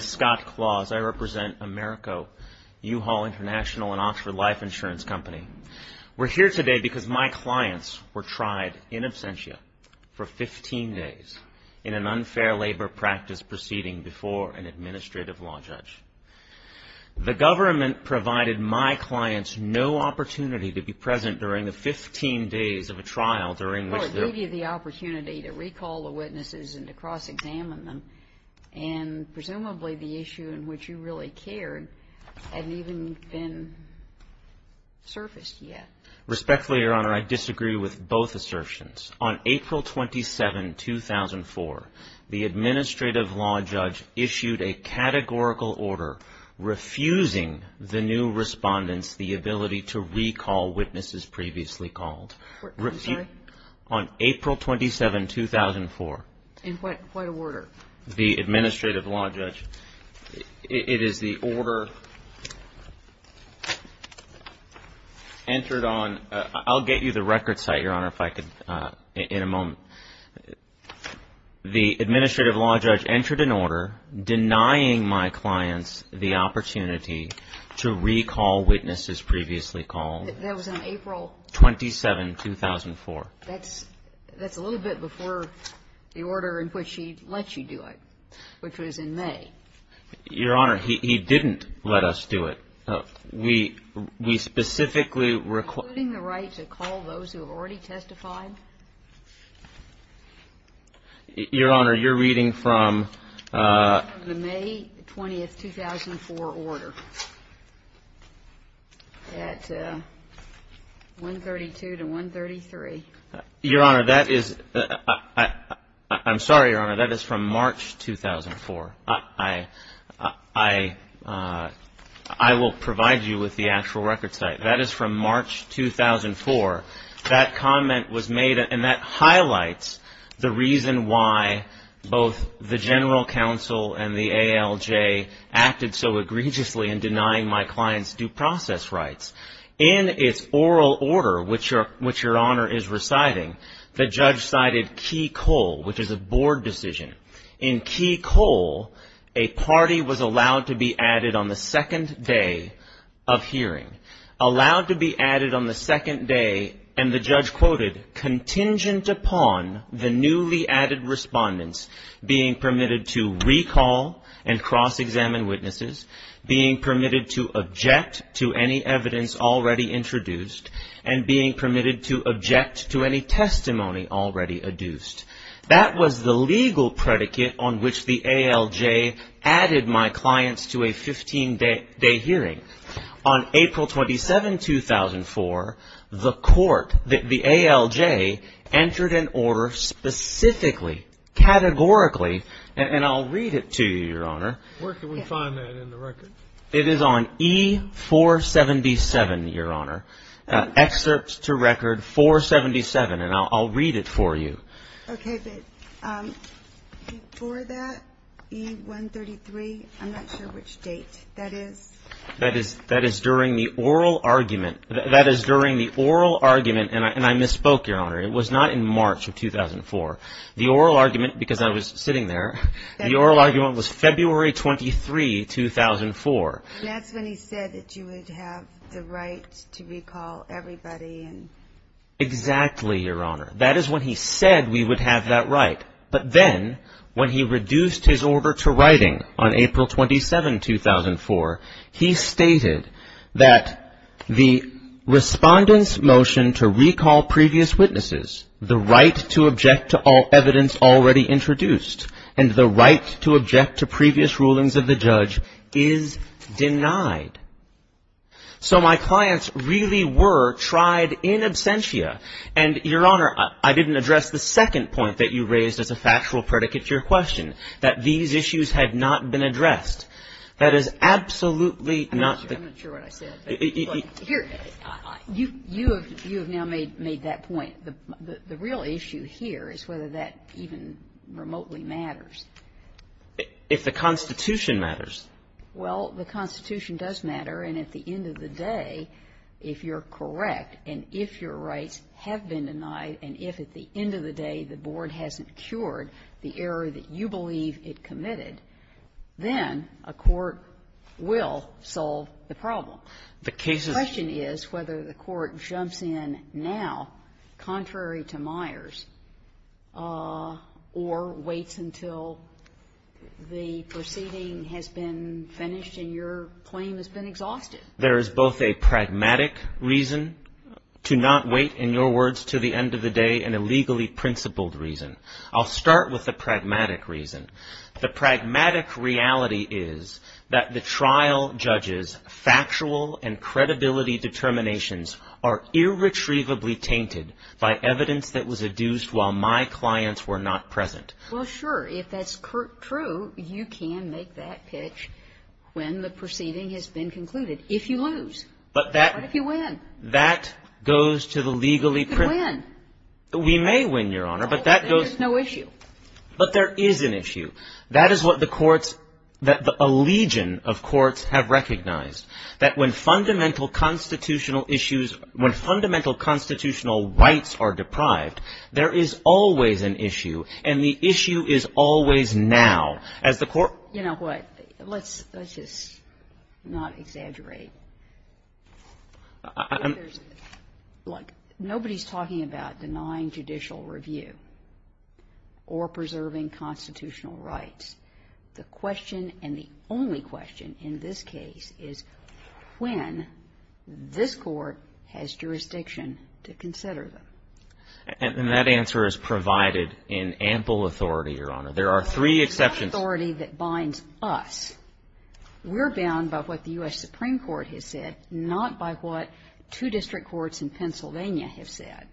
Scott Clause, U-Haul International, and Oxford Life Insurance Company We're here today because my clients were tried in absentia for 15 days in an unfair labor practice proceeding before an administrative law judge. The government provided my clients no opportunity to be present during the 15 days of a trial during which they were Well, it gave you the opportunity to recall the witnesses and to cross-examine them, and presumably the issue in which you really cared hadn't even been surfaced yet. Respectfully, Your Honor, I disagree with both assertions. On April 27, 2004, the administrative law judge issued a categorical order refusing the new respondents the ability to recall witnesses previously called. I'm sorry? On April 27, 2004. In what order? The administrative law judge, it is the order entered on, I'll get you the record site, Your Honor, if I could, in a moment. The administrative law judge entered an order denying my clients the opportunity to recall witnesses previously called. That was on April 27, 2004. That's a little bit before the order in which he let you do it, which was in May. Your Honor, he didn't let us do it. We specifically Including the right to call those who have already testified? Your Honor, you're reading from the May 20, 2004 order at 132 to 133. Your Honor, that is, I'm sorry, Your Honor, that is from March 2004. I will provide you with the actual record site. That is from March 2004. That comment was made, and that highlights the reason why both the general counsel and the ALJ acted so egregiously in denying my clients due process rights. In its oral order, which Your Honor is reciting, the judge cited key coal, which is a board decision. In key coal, a party was allowed to be added on the second day of hearing. Allowed to be added on the second day, and the judge quoted, contingent upon the newly added respondents being permitted to recall and cross-examine witnesses, being permitted to object to any evidence already introduced, and being permitted to object to any testimony already adduced. That was the legal predicate on which the ALJ added my clients to a 15-day hearing. On April 27, 2004, the court, the ALJ, entered an order specifically, categorically, and I'll read it to you, Your Honor. Where can we find that in the record? It is on E-477, Your Honor. Excerpts to Record 477, and I'll read it for you. Okay, but before that, E-133, I'm not sure which date that is. That is during the oral argument, and I misspoke, Your Honor. It was not in March of 2004. The oral argument, because I was sitting there, the oral argument was February 23, 2004. That's when he said that you would have the right to recall everybody. Exactly, Your Honor. That is when he said we would have that right. But then, when he reduced his order to writing on April 27, 2004, he stated that the respondent's motion to recall previous witnesses, the right to object to all evidence already introduced, and the right to object to previous rulings of the judge, is denied. So my clients really were tried in absentia. And, Your Honor, I didn't address the second point that you raised as a factual predicate to your question, that these issues had not been addressed. That is absolutely not the case. I'm not sure what I said. You have now made that point. The real issue here is whether that even remotely matters. If the Constitution matters. Well, the Constitution does matter. And at the end of the day, if you're correct and if your rights have been denied and if at the end of the day the board hasn't cured the error that you believe it committed, then a court will solve the problem. The question is whether the court jumps in now, contrary to Myers, or waits until the proceeding has been finished and your claim has been exhausted. There is both a pragmatic reason to not wait, in your words, to the end of the day, and a legally principled reason. I'll start with the pragmatic reason. The pragmatic reality is that the trial judge's factual and credibility determinations are irretrievably tainted by evidence that was adduced while my clients were not present. Well, sure. If that's true, you can make that pitch when the proceeding has been concluded. If you lose. What if you win? That goes to the legally principled. You could win. We may win, Your Honor, but that goes. There's no issue. But there is an issue. That is what the courts, a legion of courts have recognized. That when fundamental constitutional issues, when fundamental constitutional rights are deprived, there is always an issue. And the issue is always now. As the court ---- You know what? Let's just not exaggerate. Look. Nobody's talking about denying judicial review or preserving constitutional rights. The question and the only question in this case is when this Court has jurisdiction to consider them. And that answer is provided in ample authority, Your Honor. There are three exceptions. It's not authority that binds us. We're bound by what the U.S. Supreme Court has said, not by what two district courts in Pennsylvania have said.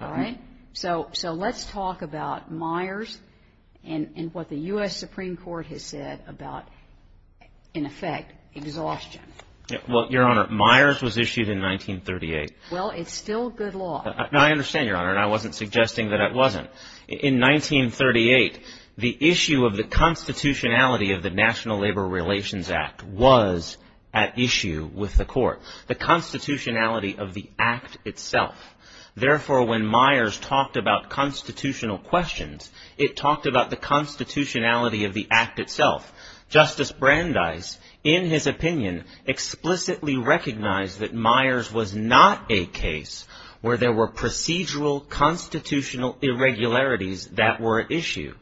All right? So let's talk about Myers and what the U.S. Supreme Court has said about, in effect, exhaustion. Well, Your Honor, Myers was issued in 1938. Well, it's still good law. I understand, Your Honor, and I wasn't suggesting that it wasn't. In 1938, the issue of the constitutionality of the National Labor Relations Act was at issue with the court. The constitutionality of the act itself. Therefore, when Myers talked about constitutional questions, it talked about the constitutionality of the act itself. Justice Brandeis, in his opinion, explicitly recognized that Myers was not a case where there were procedural constitutional irregularities that were at issue.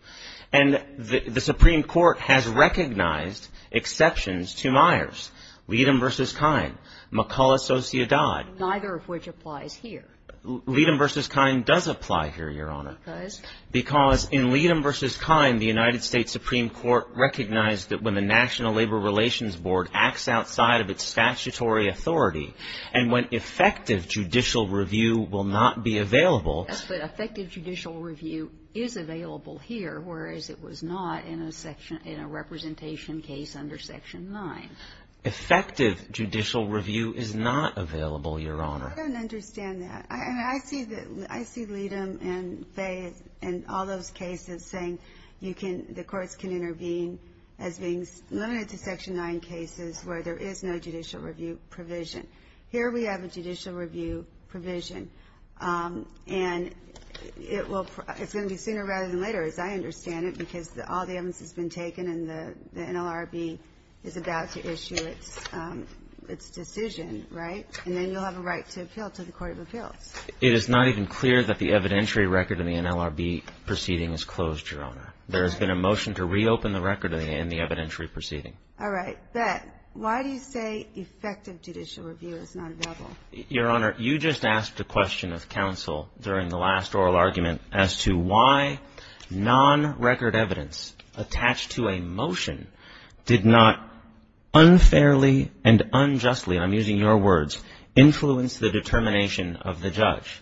And the Supreme Court has recognized exceptions to Myers. Leadham v. Kine. McCullough, Sociedad. Neither of which applies here. Leadham v. Kine does apply here, Your Honor. Because? Because in Leadham v. Kine, the United States Supreme Court recognized that when the National Labor Relations Board acts outside of its statutory authority, and when effective judicial review will not be available. Yes, but effective judicial review is available here, whereas it was not in a representation case under Section 9. Effective judicial review is not available, Your Honor. I don't understand that. I mean, I see Leadham and Fay and all those cases saying the courts can intervene as being limited to Section 9 cases where there is no judicial review provision. Here we have a judicial review provision, and it's going to be sooner rather than later, as I understand it, because all the evidence has been taken and the NLRB is about to issue its decision, right? And then you'll have a right to appeal to the Court of Appeals. It is not even clear that the evidentiary record in the NLRB proceeding is closed, Your Honor. There has been a motion to reopen the record in the evidentiary proceeding. All right. But why do you say effective judicial review is not available? Your Honor, you just asked a question of counsel during the last oral argument as to why non-record evidence attached to a motion did not unfairly and unjustly, and I'm using your words, influence the determination of the judge.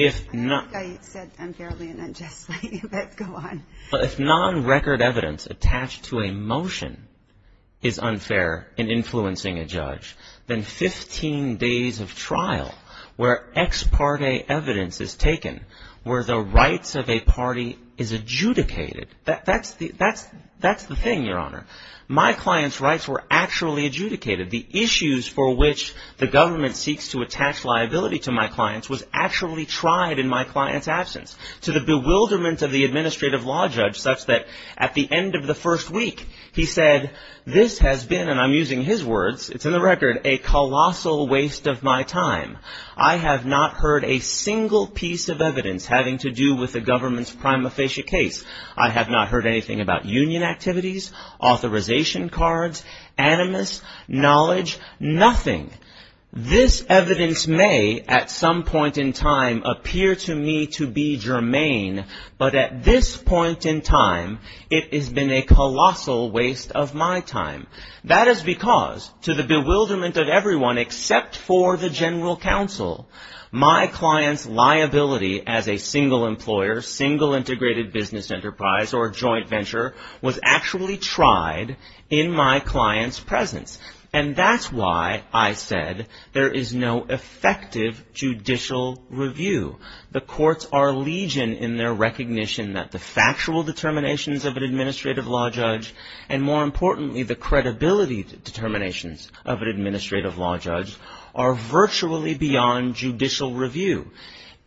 I don't think I said unfairly and unjustly, but go on. If non-record evidence attached to a motion is unfair in influencing a judge, then 15 days of trial where ex parte evidence is taken where the rights of a party is adjudicated, that's the thing, Your Honor. My client's rights were actually adjudicated. The issues for which the government seeks to attach liability to my clients was actually tried in my client's absence. To the bewilderment of the administrative law judge such that at the end of the first week, he said, this has been, and I'm using his words, it's in the record, a colossal waste of my time. I have not heard a single piece of evidence having to do with the government's prima facie case. I have not heard anything about union activities, authorization cards, animus, knowledge, nothing. This evidence may at some point in time appear to me to be germane, but at this point in time, it has been a colossal waste of my time. That is because to the bewilderment of everyone except for the general counsel, my client's liability as a single employer, single integrated business enterprise or joint venture was actually tried in my client's presence. And that's why I said there is no effective judicial review. The courts are legion in their recognition that the factual determinations of an administrative law judge and more importantly, the credibility determinations of an administrative law judge are virtually beyond judicial review.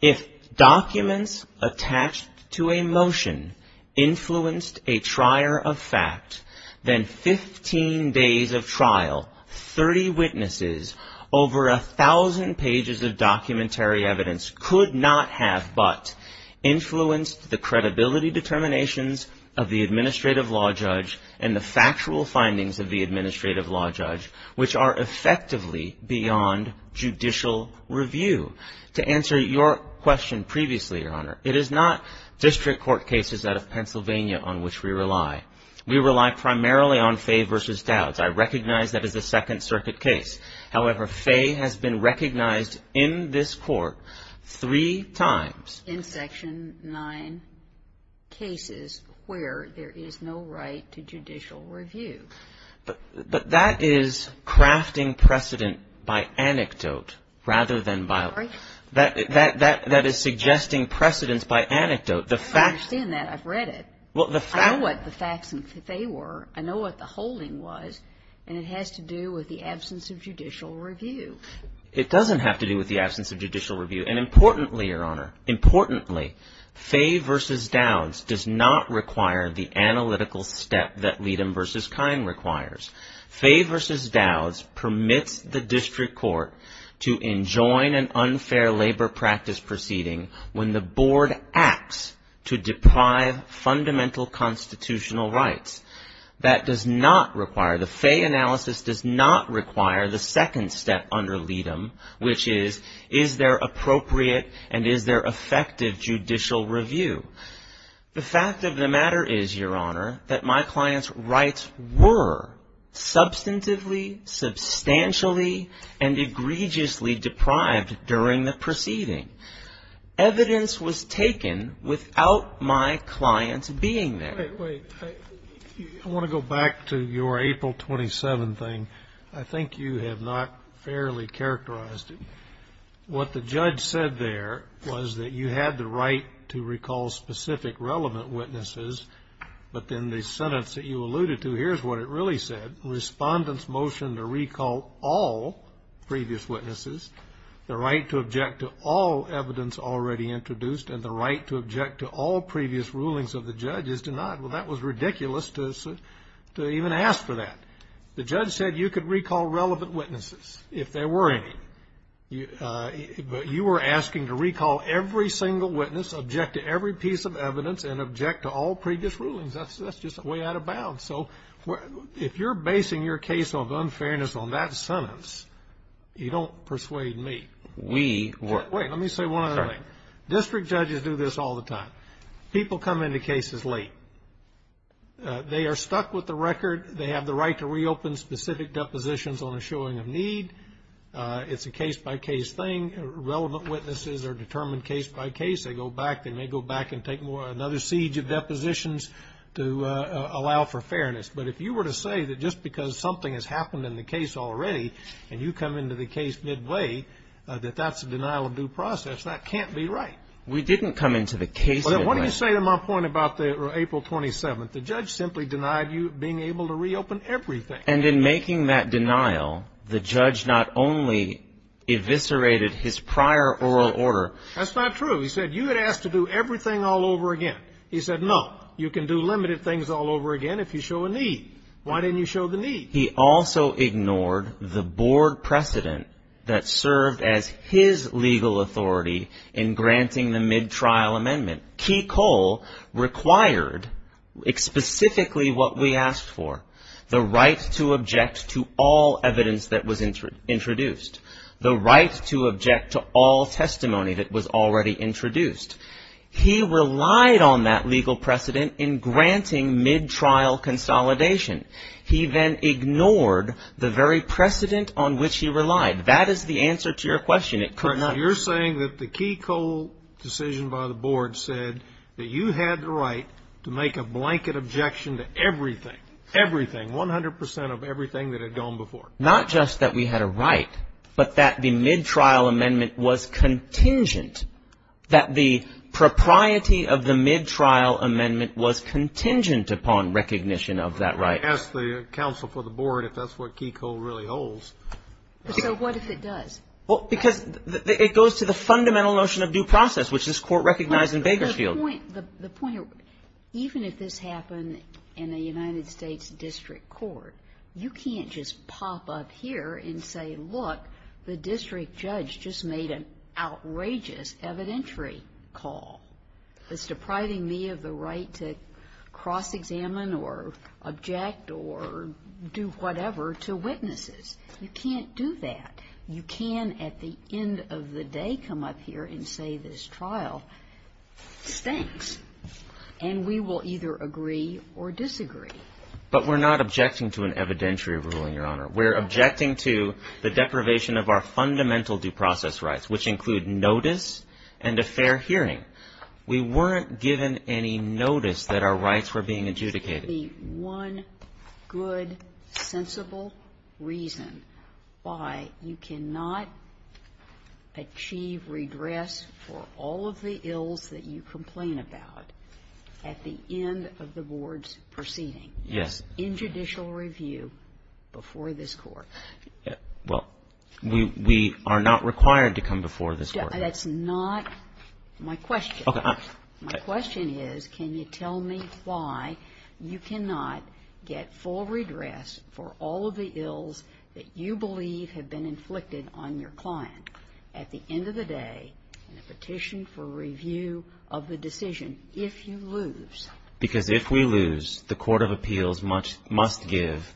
If documents attached to a motion influenced a trier of fact, then 15 days of trial, 30 witnesses, over a thousand pages of documentary evidence could not have but influenced the credibility determinations of the administrative law judge and the factual findings of the administrative law judge, which are effectively beyond judicial review. To answer your question previously, Your Honor, it is not district court cases out of Pennsylvania on which we rely. We rely primarily on Fay v. Dowds. I recognize that as a Second Circuit case. However, Fay has been recognized in this court three times. In Section 9 cases where there is no right to judicial review. But that is crafting precedent by anecdote rather than by law. Sorry? That is suggesting precedence by anecdote. I understand that. I've read it. I know what the facts in Fay were. I know what the holding was. And it has to do with the absence of judicial review. It doesn't have to do with the absence of judicial review. And importantly, Your Honor, importantly, Fay v. Dowds does not require the analytical step that Leadom v. Kine requires. Fay v. Dowds permits the district court to enjoin an unfair labor practice proceeding when the board acts to deprive fundamental constitutional rights. That does not require, the Fay analysis does not require the second step under Leadom, which is, is there appropriate and is there effective judicial review? The fact of the matter is, Your Honor, that my client's rights were substantively, substantially, and egregiously deprived during the proceeding. Evidence was taken without my client being there. Wait. I want to go back to your April 27 thing. I think you have not fairly characterized it. What the judge said there was that you had the right to recall specific relevant witnesses, but then the sentence that you alluded to, here's what it really said, the right to object to all evidence already introduced and the right to object to all previous rulings of the judge is denied. Well, that was ridiculous to even ask for that. The judge said you could recall relevant witnesses, if there were any. But you were asking to recall every single witness, object to every piece of evidence, and object to all previous rulings. That's just way out of bounds. So if you're basing your case of unfairness on that sentence, you don't persuade me. Wait. Let me say one other thing. District judges do this all the time. People come into cases late. They are stuck with the record. They have the right to reopen specific depositions on a showing of need. It's a case-by-case thing. Relevant witnesses are determined case-by-case. They go back. They may go back and take another siege of depositions to allow for fairness. But if you were to say that just because something has happened in the case already, and you come into the case midway, that that's a denial of due process, that can't be right. We didn't come into the case midway. What do you say to my point about April 27th? The judge simply denied you being able to reopen everything. And in making that denial, the judge not only eviscerated his prior oral order. That's not true. He said you had asked to do everything all over again. He said, no, you can do limited things all over again if you show a need. Why didn't you show the need? He also ignored the board precedent that served as his legal authority in granting the mid-trial amendment. Key Cole required specifically what we asked for, the right to object to all evidence that was introduced, the right to object to all testimony that was already introduced. He relied on that legal precedent in granting mid-trial consolidation. He then ignored the very precedent on which he relied. That is the answer to your question. It could not be. You're saying that the Key Cole decision by the board said that you had the right to make a blanket objection to everything, everything, 100 percent of everything that had gone before. Not just that we had a right, but that the mid-trial amendment was contingent, that the propriety of the mid-trial amendment was contingent upon recognition of that right. I'd ask the counsel for the board if that's what Key Cole really holds. So what if it does? Well, because it goes to the fundamental notion of due process, which this Court recognized in Bakersfield. The point, even if this happened in a United States district court, you can't just pop up here and say, look, the district judge just made an outrageous evidentiary call. It's depriving me of the right to cross-examine or object or do whatever to witnesses. You can't do that. You can at the end of the day come up here and say this trial stinks, and we will either agree or disagree. But we're not objecting to an evidentiary ruling, Your Honor. We're objecting to the deprivation of our fundamental due process rights, which include notice and a fair hearing. We weren't given any notice that our rights were being adjudicated. One good, sensible reason why you cannot achieve redress for all of the ills that you complain about at the end of the board's proceeding. In judicial review before this Court. Well, we are not required to come before this Court. That's not my question. Okay. My question is, can you tell me why you cannot get full redress for all of the ills that you believe have been inflicted on your client at the end of the day in a petition for review of the decision, if you lose? Because if we lose, the court of appeals must give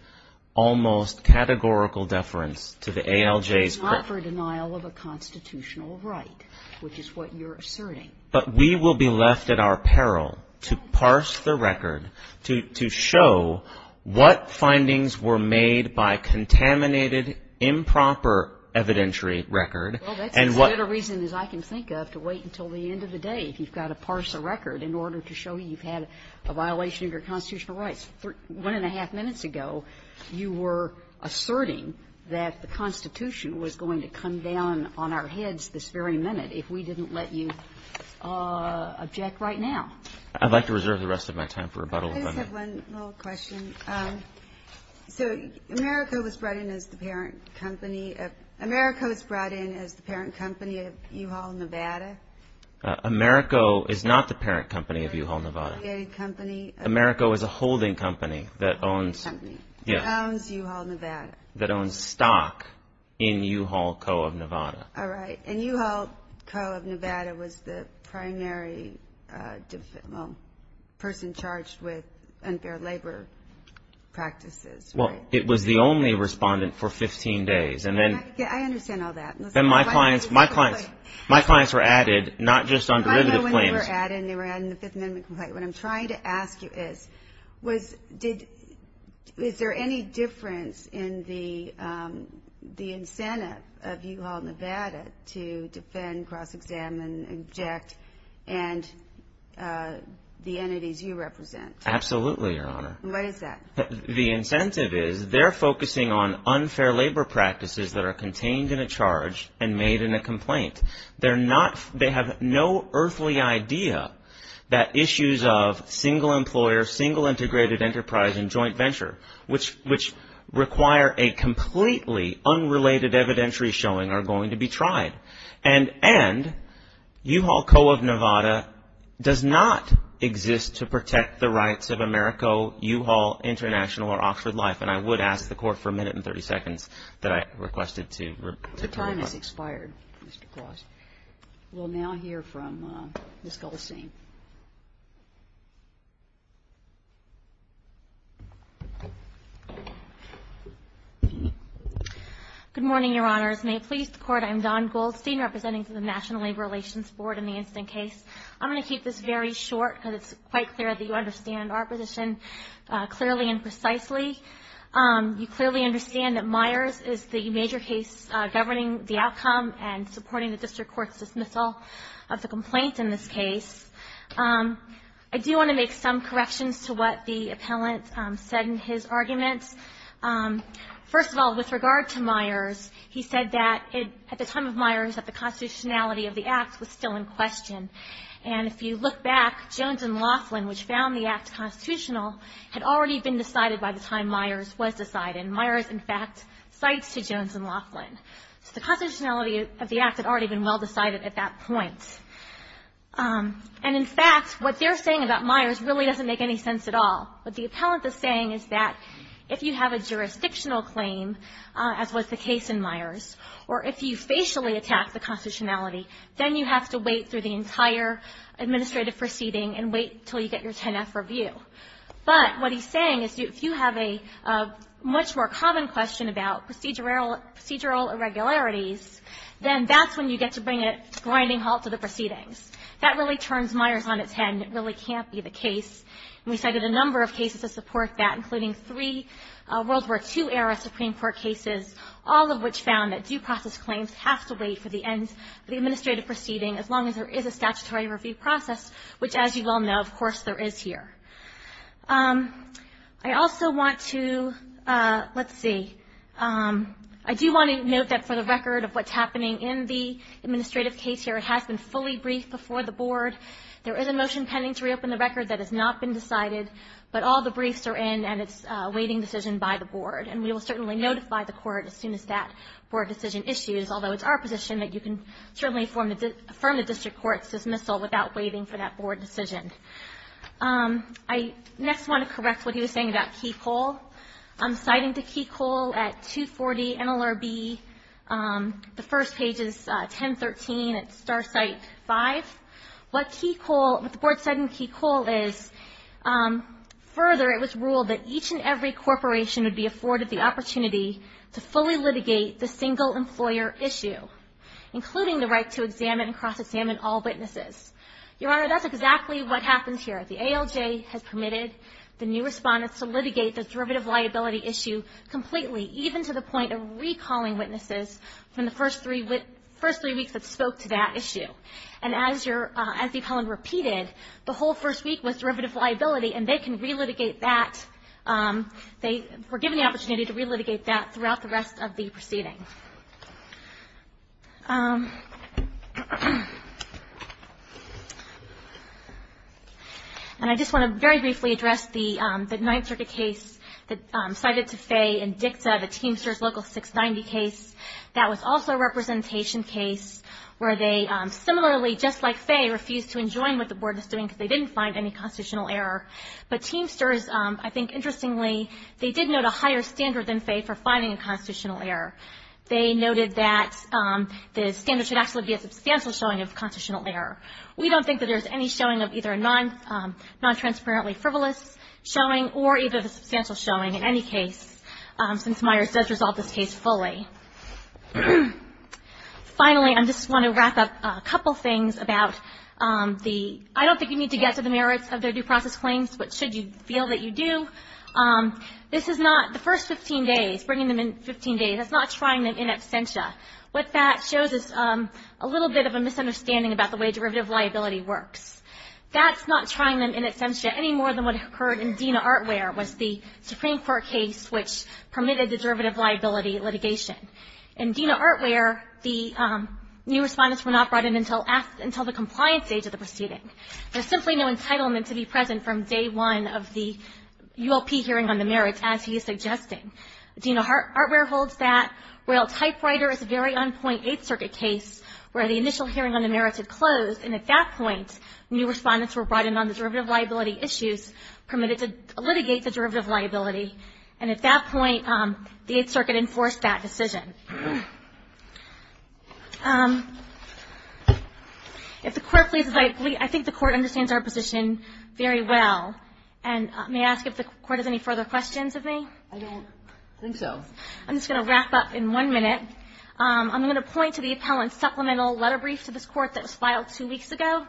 almost categorical deference to the ALJ's preference. It's not for denial of a constitutional right, which is what you're asserting. But we will be left at our peril to parse the record, to show what findings were made by contaminated, improper evidentiary record, and what you've got to parse a record in order to show you've had a violation of your constitutional rights. One and a half minutes ago, you were asserting that the Constitution was going to come down on our heads this very minute if we didn't let you object right now. I'd like to reserve the rest of my time for rebuttal if I may. I just have one little question. So Americo was brought in as the parent company. Americo was brought in as the parent company of U-Haul Nevada? Americo is not the parent company of U-Haul Nevada. Americo is a holding company that owns stock in U-Haul Co. of Nevada. All right. And U-Haul Co. of Nevada was the primary person charged with unfair labor practices, right? Well, it was the only respondent for 15 days. I understand all that. My clients were added not just on derivative claims. I know when they were added, and they were added in the Fifth Amendment complaint. What I'm trying to ask you is, is there any difference in the incentive of U-Haul Nevada to defend, cross-examine, object, and the entities you represent? Absolutely, Your Honor. What is that? The incentive is they're focusing on unfair labor practices that are contained in a charge and made in a complaint. They have no earthly idea that issues of single employer, single integrated enterprise, and joint venture, which require a completely unrelated evidentiary showing, are going to be tried. And U-Haul Co. of Nevada does not exist to protect the rights of Americo, U-Haul International, or Oxford Life. And I would ask the Court for a minute and 30 seconds that I requested to reply. Your time has expired, Mr. Gloss. We'll now hear from Ms. Goldstein. Good morning, Your Honors. May it please the Court, I am Dawn Goldstein, representing the National Labor Relations Board in the incident case. I'm going to keep this very short because it's quite clear that you understand our position clearly and precisely. You clearly understand that Myers is the major case governing the outcome and supporting the district court's dismissal of the complaint in this case. I do want to make some corrections to what the appellant said in his arguments. First of all, with regard to Myers, he said that at the time of Myers, that the constitutionality of the act was still in question. And if you look back, Jones and Laughlin, which found the act constitutional, had already been decided by the time Myers was decided. And Myers, in fact, cites to Jones and Laughlin. So the constitutionality of the act had already been well decided at that point. And, in fact, what they're saying about Myers really doesn't make any sense at all. What the appellant is saying is that if you have a jurisdictional claim, as was the case in Myers, or if you facially attack the constitutionality, then you have to wait through the entire administrative proceeding and wait until you get your 10-F review. But what he's saying is if you have a much more common question about procedural irregularities, then that's when you get to bring a grinding halt to the proceedings. That really turns Myers on its head, and it really can't be the case. And we cited a number of cases to support that, including three World War II-era Supreme Court cases, all of which found that due process claims have to wait for the end of the administrative proceeding, as long as there is a statutory review process, which, as you all know, of course there is here. I also want to ‑‑ let's see. I do want to note that for the record of what's happening in the administrative case here, it has been fully briefed before the board. There is a motion pending to reopen the record that has not been decided, but all the briefs are in, and it's a waiting decision by the board. And we will certainly notify the court as soon as that board decision issues, although it's our position that you can certainly affirm the district court's dismissal without waiting for that board decision. I next want to correct what he was saying about Key Coal. I'm citing to Key Coal at 240 NLRB, the first page is 1013 at Star Site 5. What the board said in Key Coal is, further, it was ruled that each and every corporation would be afforded the opportunity to fully litigate the single employer issue, including the right to examine and cross-examine all witnesses. Your Honor, that's exactly what happens here. The ALJ has permitted the new respondents to litigate the derivative liability issue completely, even to the point of recalling witnesses from the first three weeks that spoke to that issue. And as the appellant repeated, the whole first week was derivative liability, and they were given the opportunity to re-litigate that throughout the rest of the proceeding. And I just want to very briefly address the Ninth Circuit case cited to Fay and Dikta, the Teamsters Local 690 case. That was also a representation case where they similarly, just like Fay, they refused to enjoin what the board was doing because they didn't find any constitutional error. But Teamsters, I think interestingly, they did note a higher standard than Fay for finding a constitutional error. They noted that the standard should actually be a substantial showing of constitutional error. We don't think that there's any showing of either a non-transparently frivolous showing or even a substantial showing in any case, since Myers does resolve this case fully. Finally, I just want to wrap up a couple things about the ‑‑ I don't think you need to get to the merits of their due process claims, but should you feel that you do. This is not ‑‑ the first 15 days, bringing them in 15 days, that's not trying them in absentia. What that shows is a little bit of a misunderstanding about the way derivative liability works. That's not trying them in absentia any more than what occurred in Dena Artware, was the Supreme Court case which permitted the derivative liability litigation. In Dena Artware, the new respondents were not brought in until the compliance stage of the proceeding. There's simply no entitlement to be present from day one of the ULP hearing on the merits, as he is suggesting. Dena Artware holds that Royal Typewriter is very on Point 8th Circuit case, where the initial hearing on the merits had closed, and at that point, new respondents were brought in on the derivative liability issues, permitted to litigate the derivative liability, and at that point, the 8th Circuit enforced that decision. If the Court pleases, I think the Court understands our position very well, and may I ask if the Court has any further questions of me? I don't think so. I'm just going to wrap up in one minute. I'm going to point to the appellant's supplemental letter brief to this Court that was filed two weeks ago.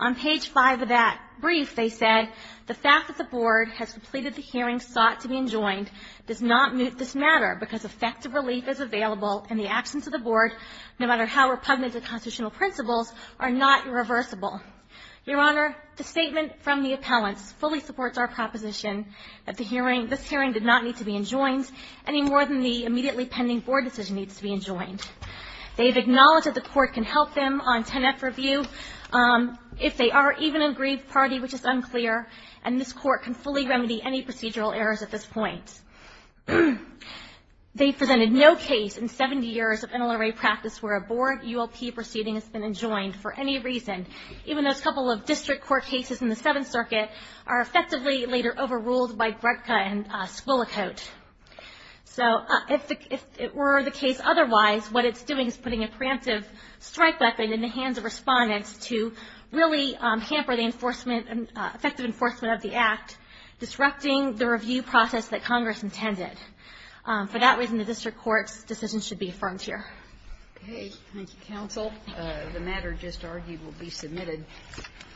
On page 5 of that brief, they said, The fact that the Board has completed the hearing sought to be enjoined does not mute this matter because effective relief is available, and the actions of the Board, no matter how repugnant to constitutional principles, are not irreversible. Your Honor, the statement from the appellant fully supports our proposition that the hearing, this hearing did not need to be enjoined any more than the immediately pending Board decision needs to be enjoined. They have acknowledged that the Court can help them on 10-F review, if they are even an aggrieved party, which is unclear, and this Court can fully remedy any procedural errors at this point. They presented no case in 70 years of NLRA practice where a Board ULP proceeding has been enjoined for any reason, even though a couple of district court cases in the 7th Circuit are effectively later overruled by Gretka and Scolicote. So if it were the case otherwise, what it's doing is putting a preemptive strike weapon in the hands of Respondents to really hamper the enforcement, effective enforcement of the Act, disrupting the review process that Congress intended. For that reason, the district court's decision should be affirmed here. Okay. Thank you, counsel. The matter just argued will be submitted.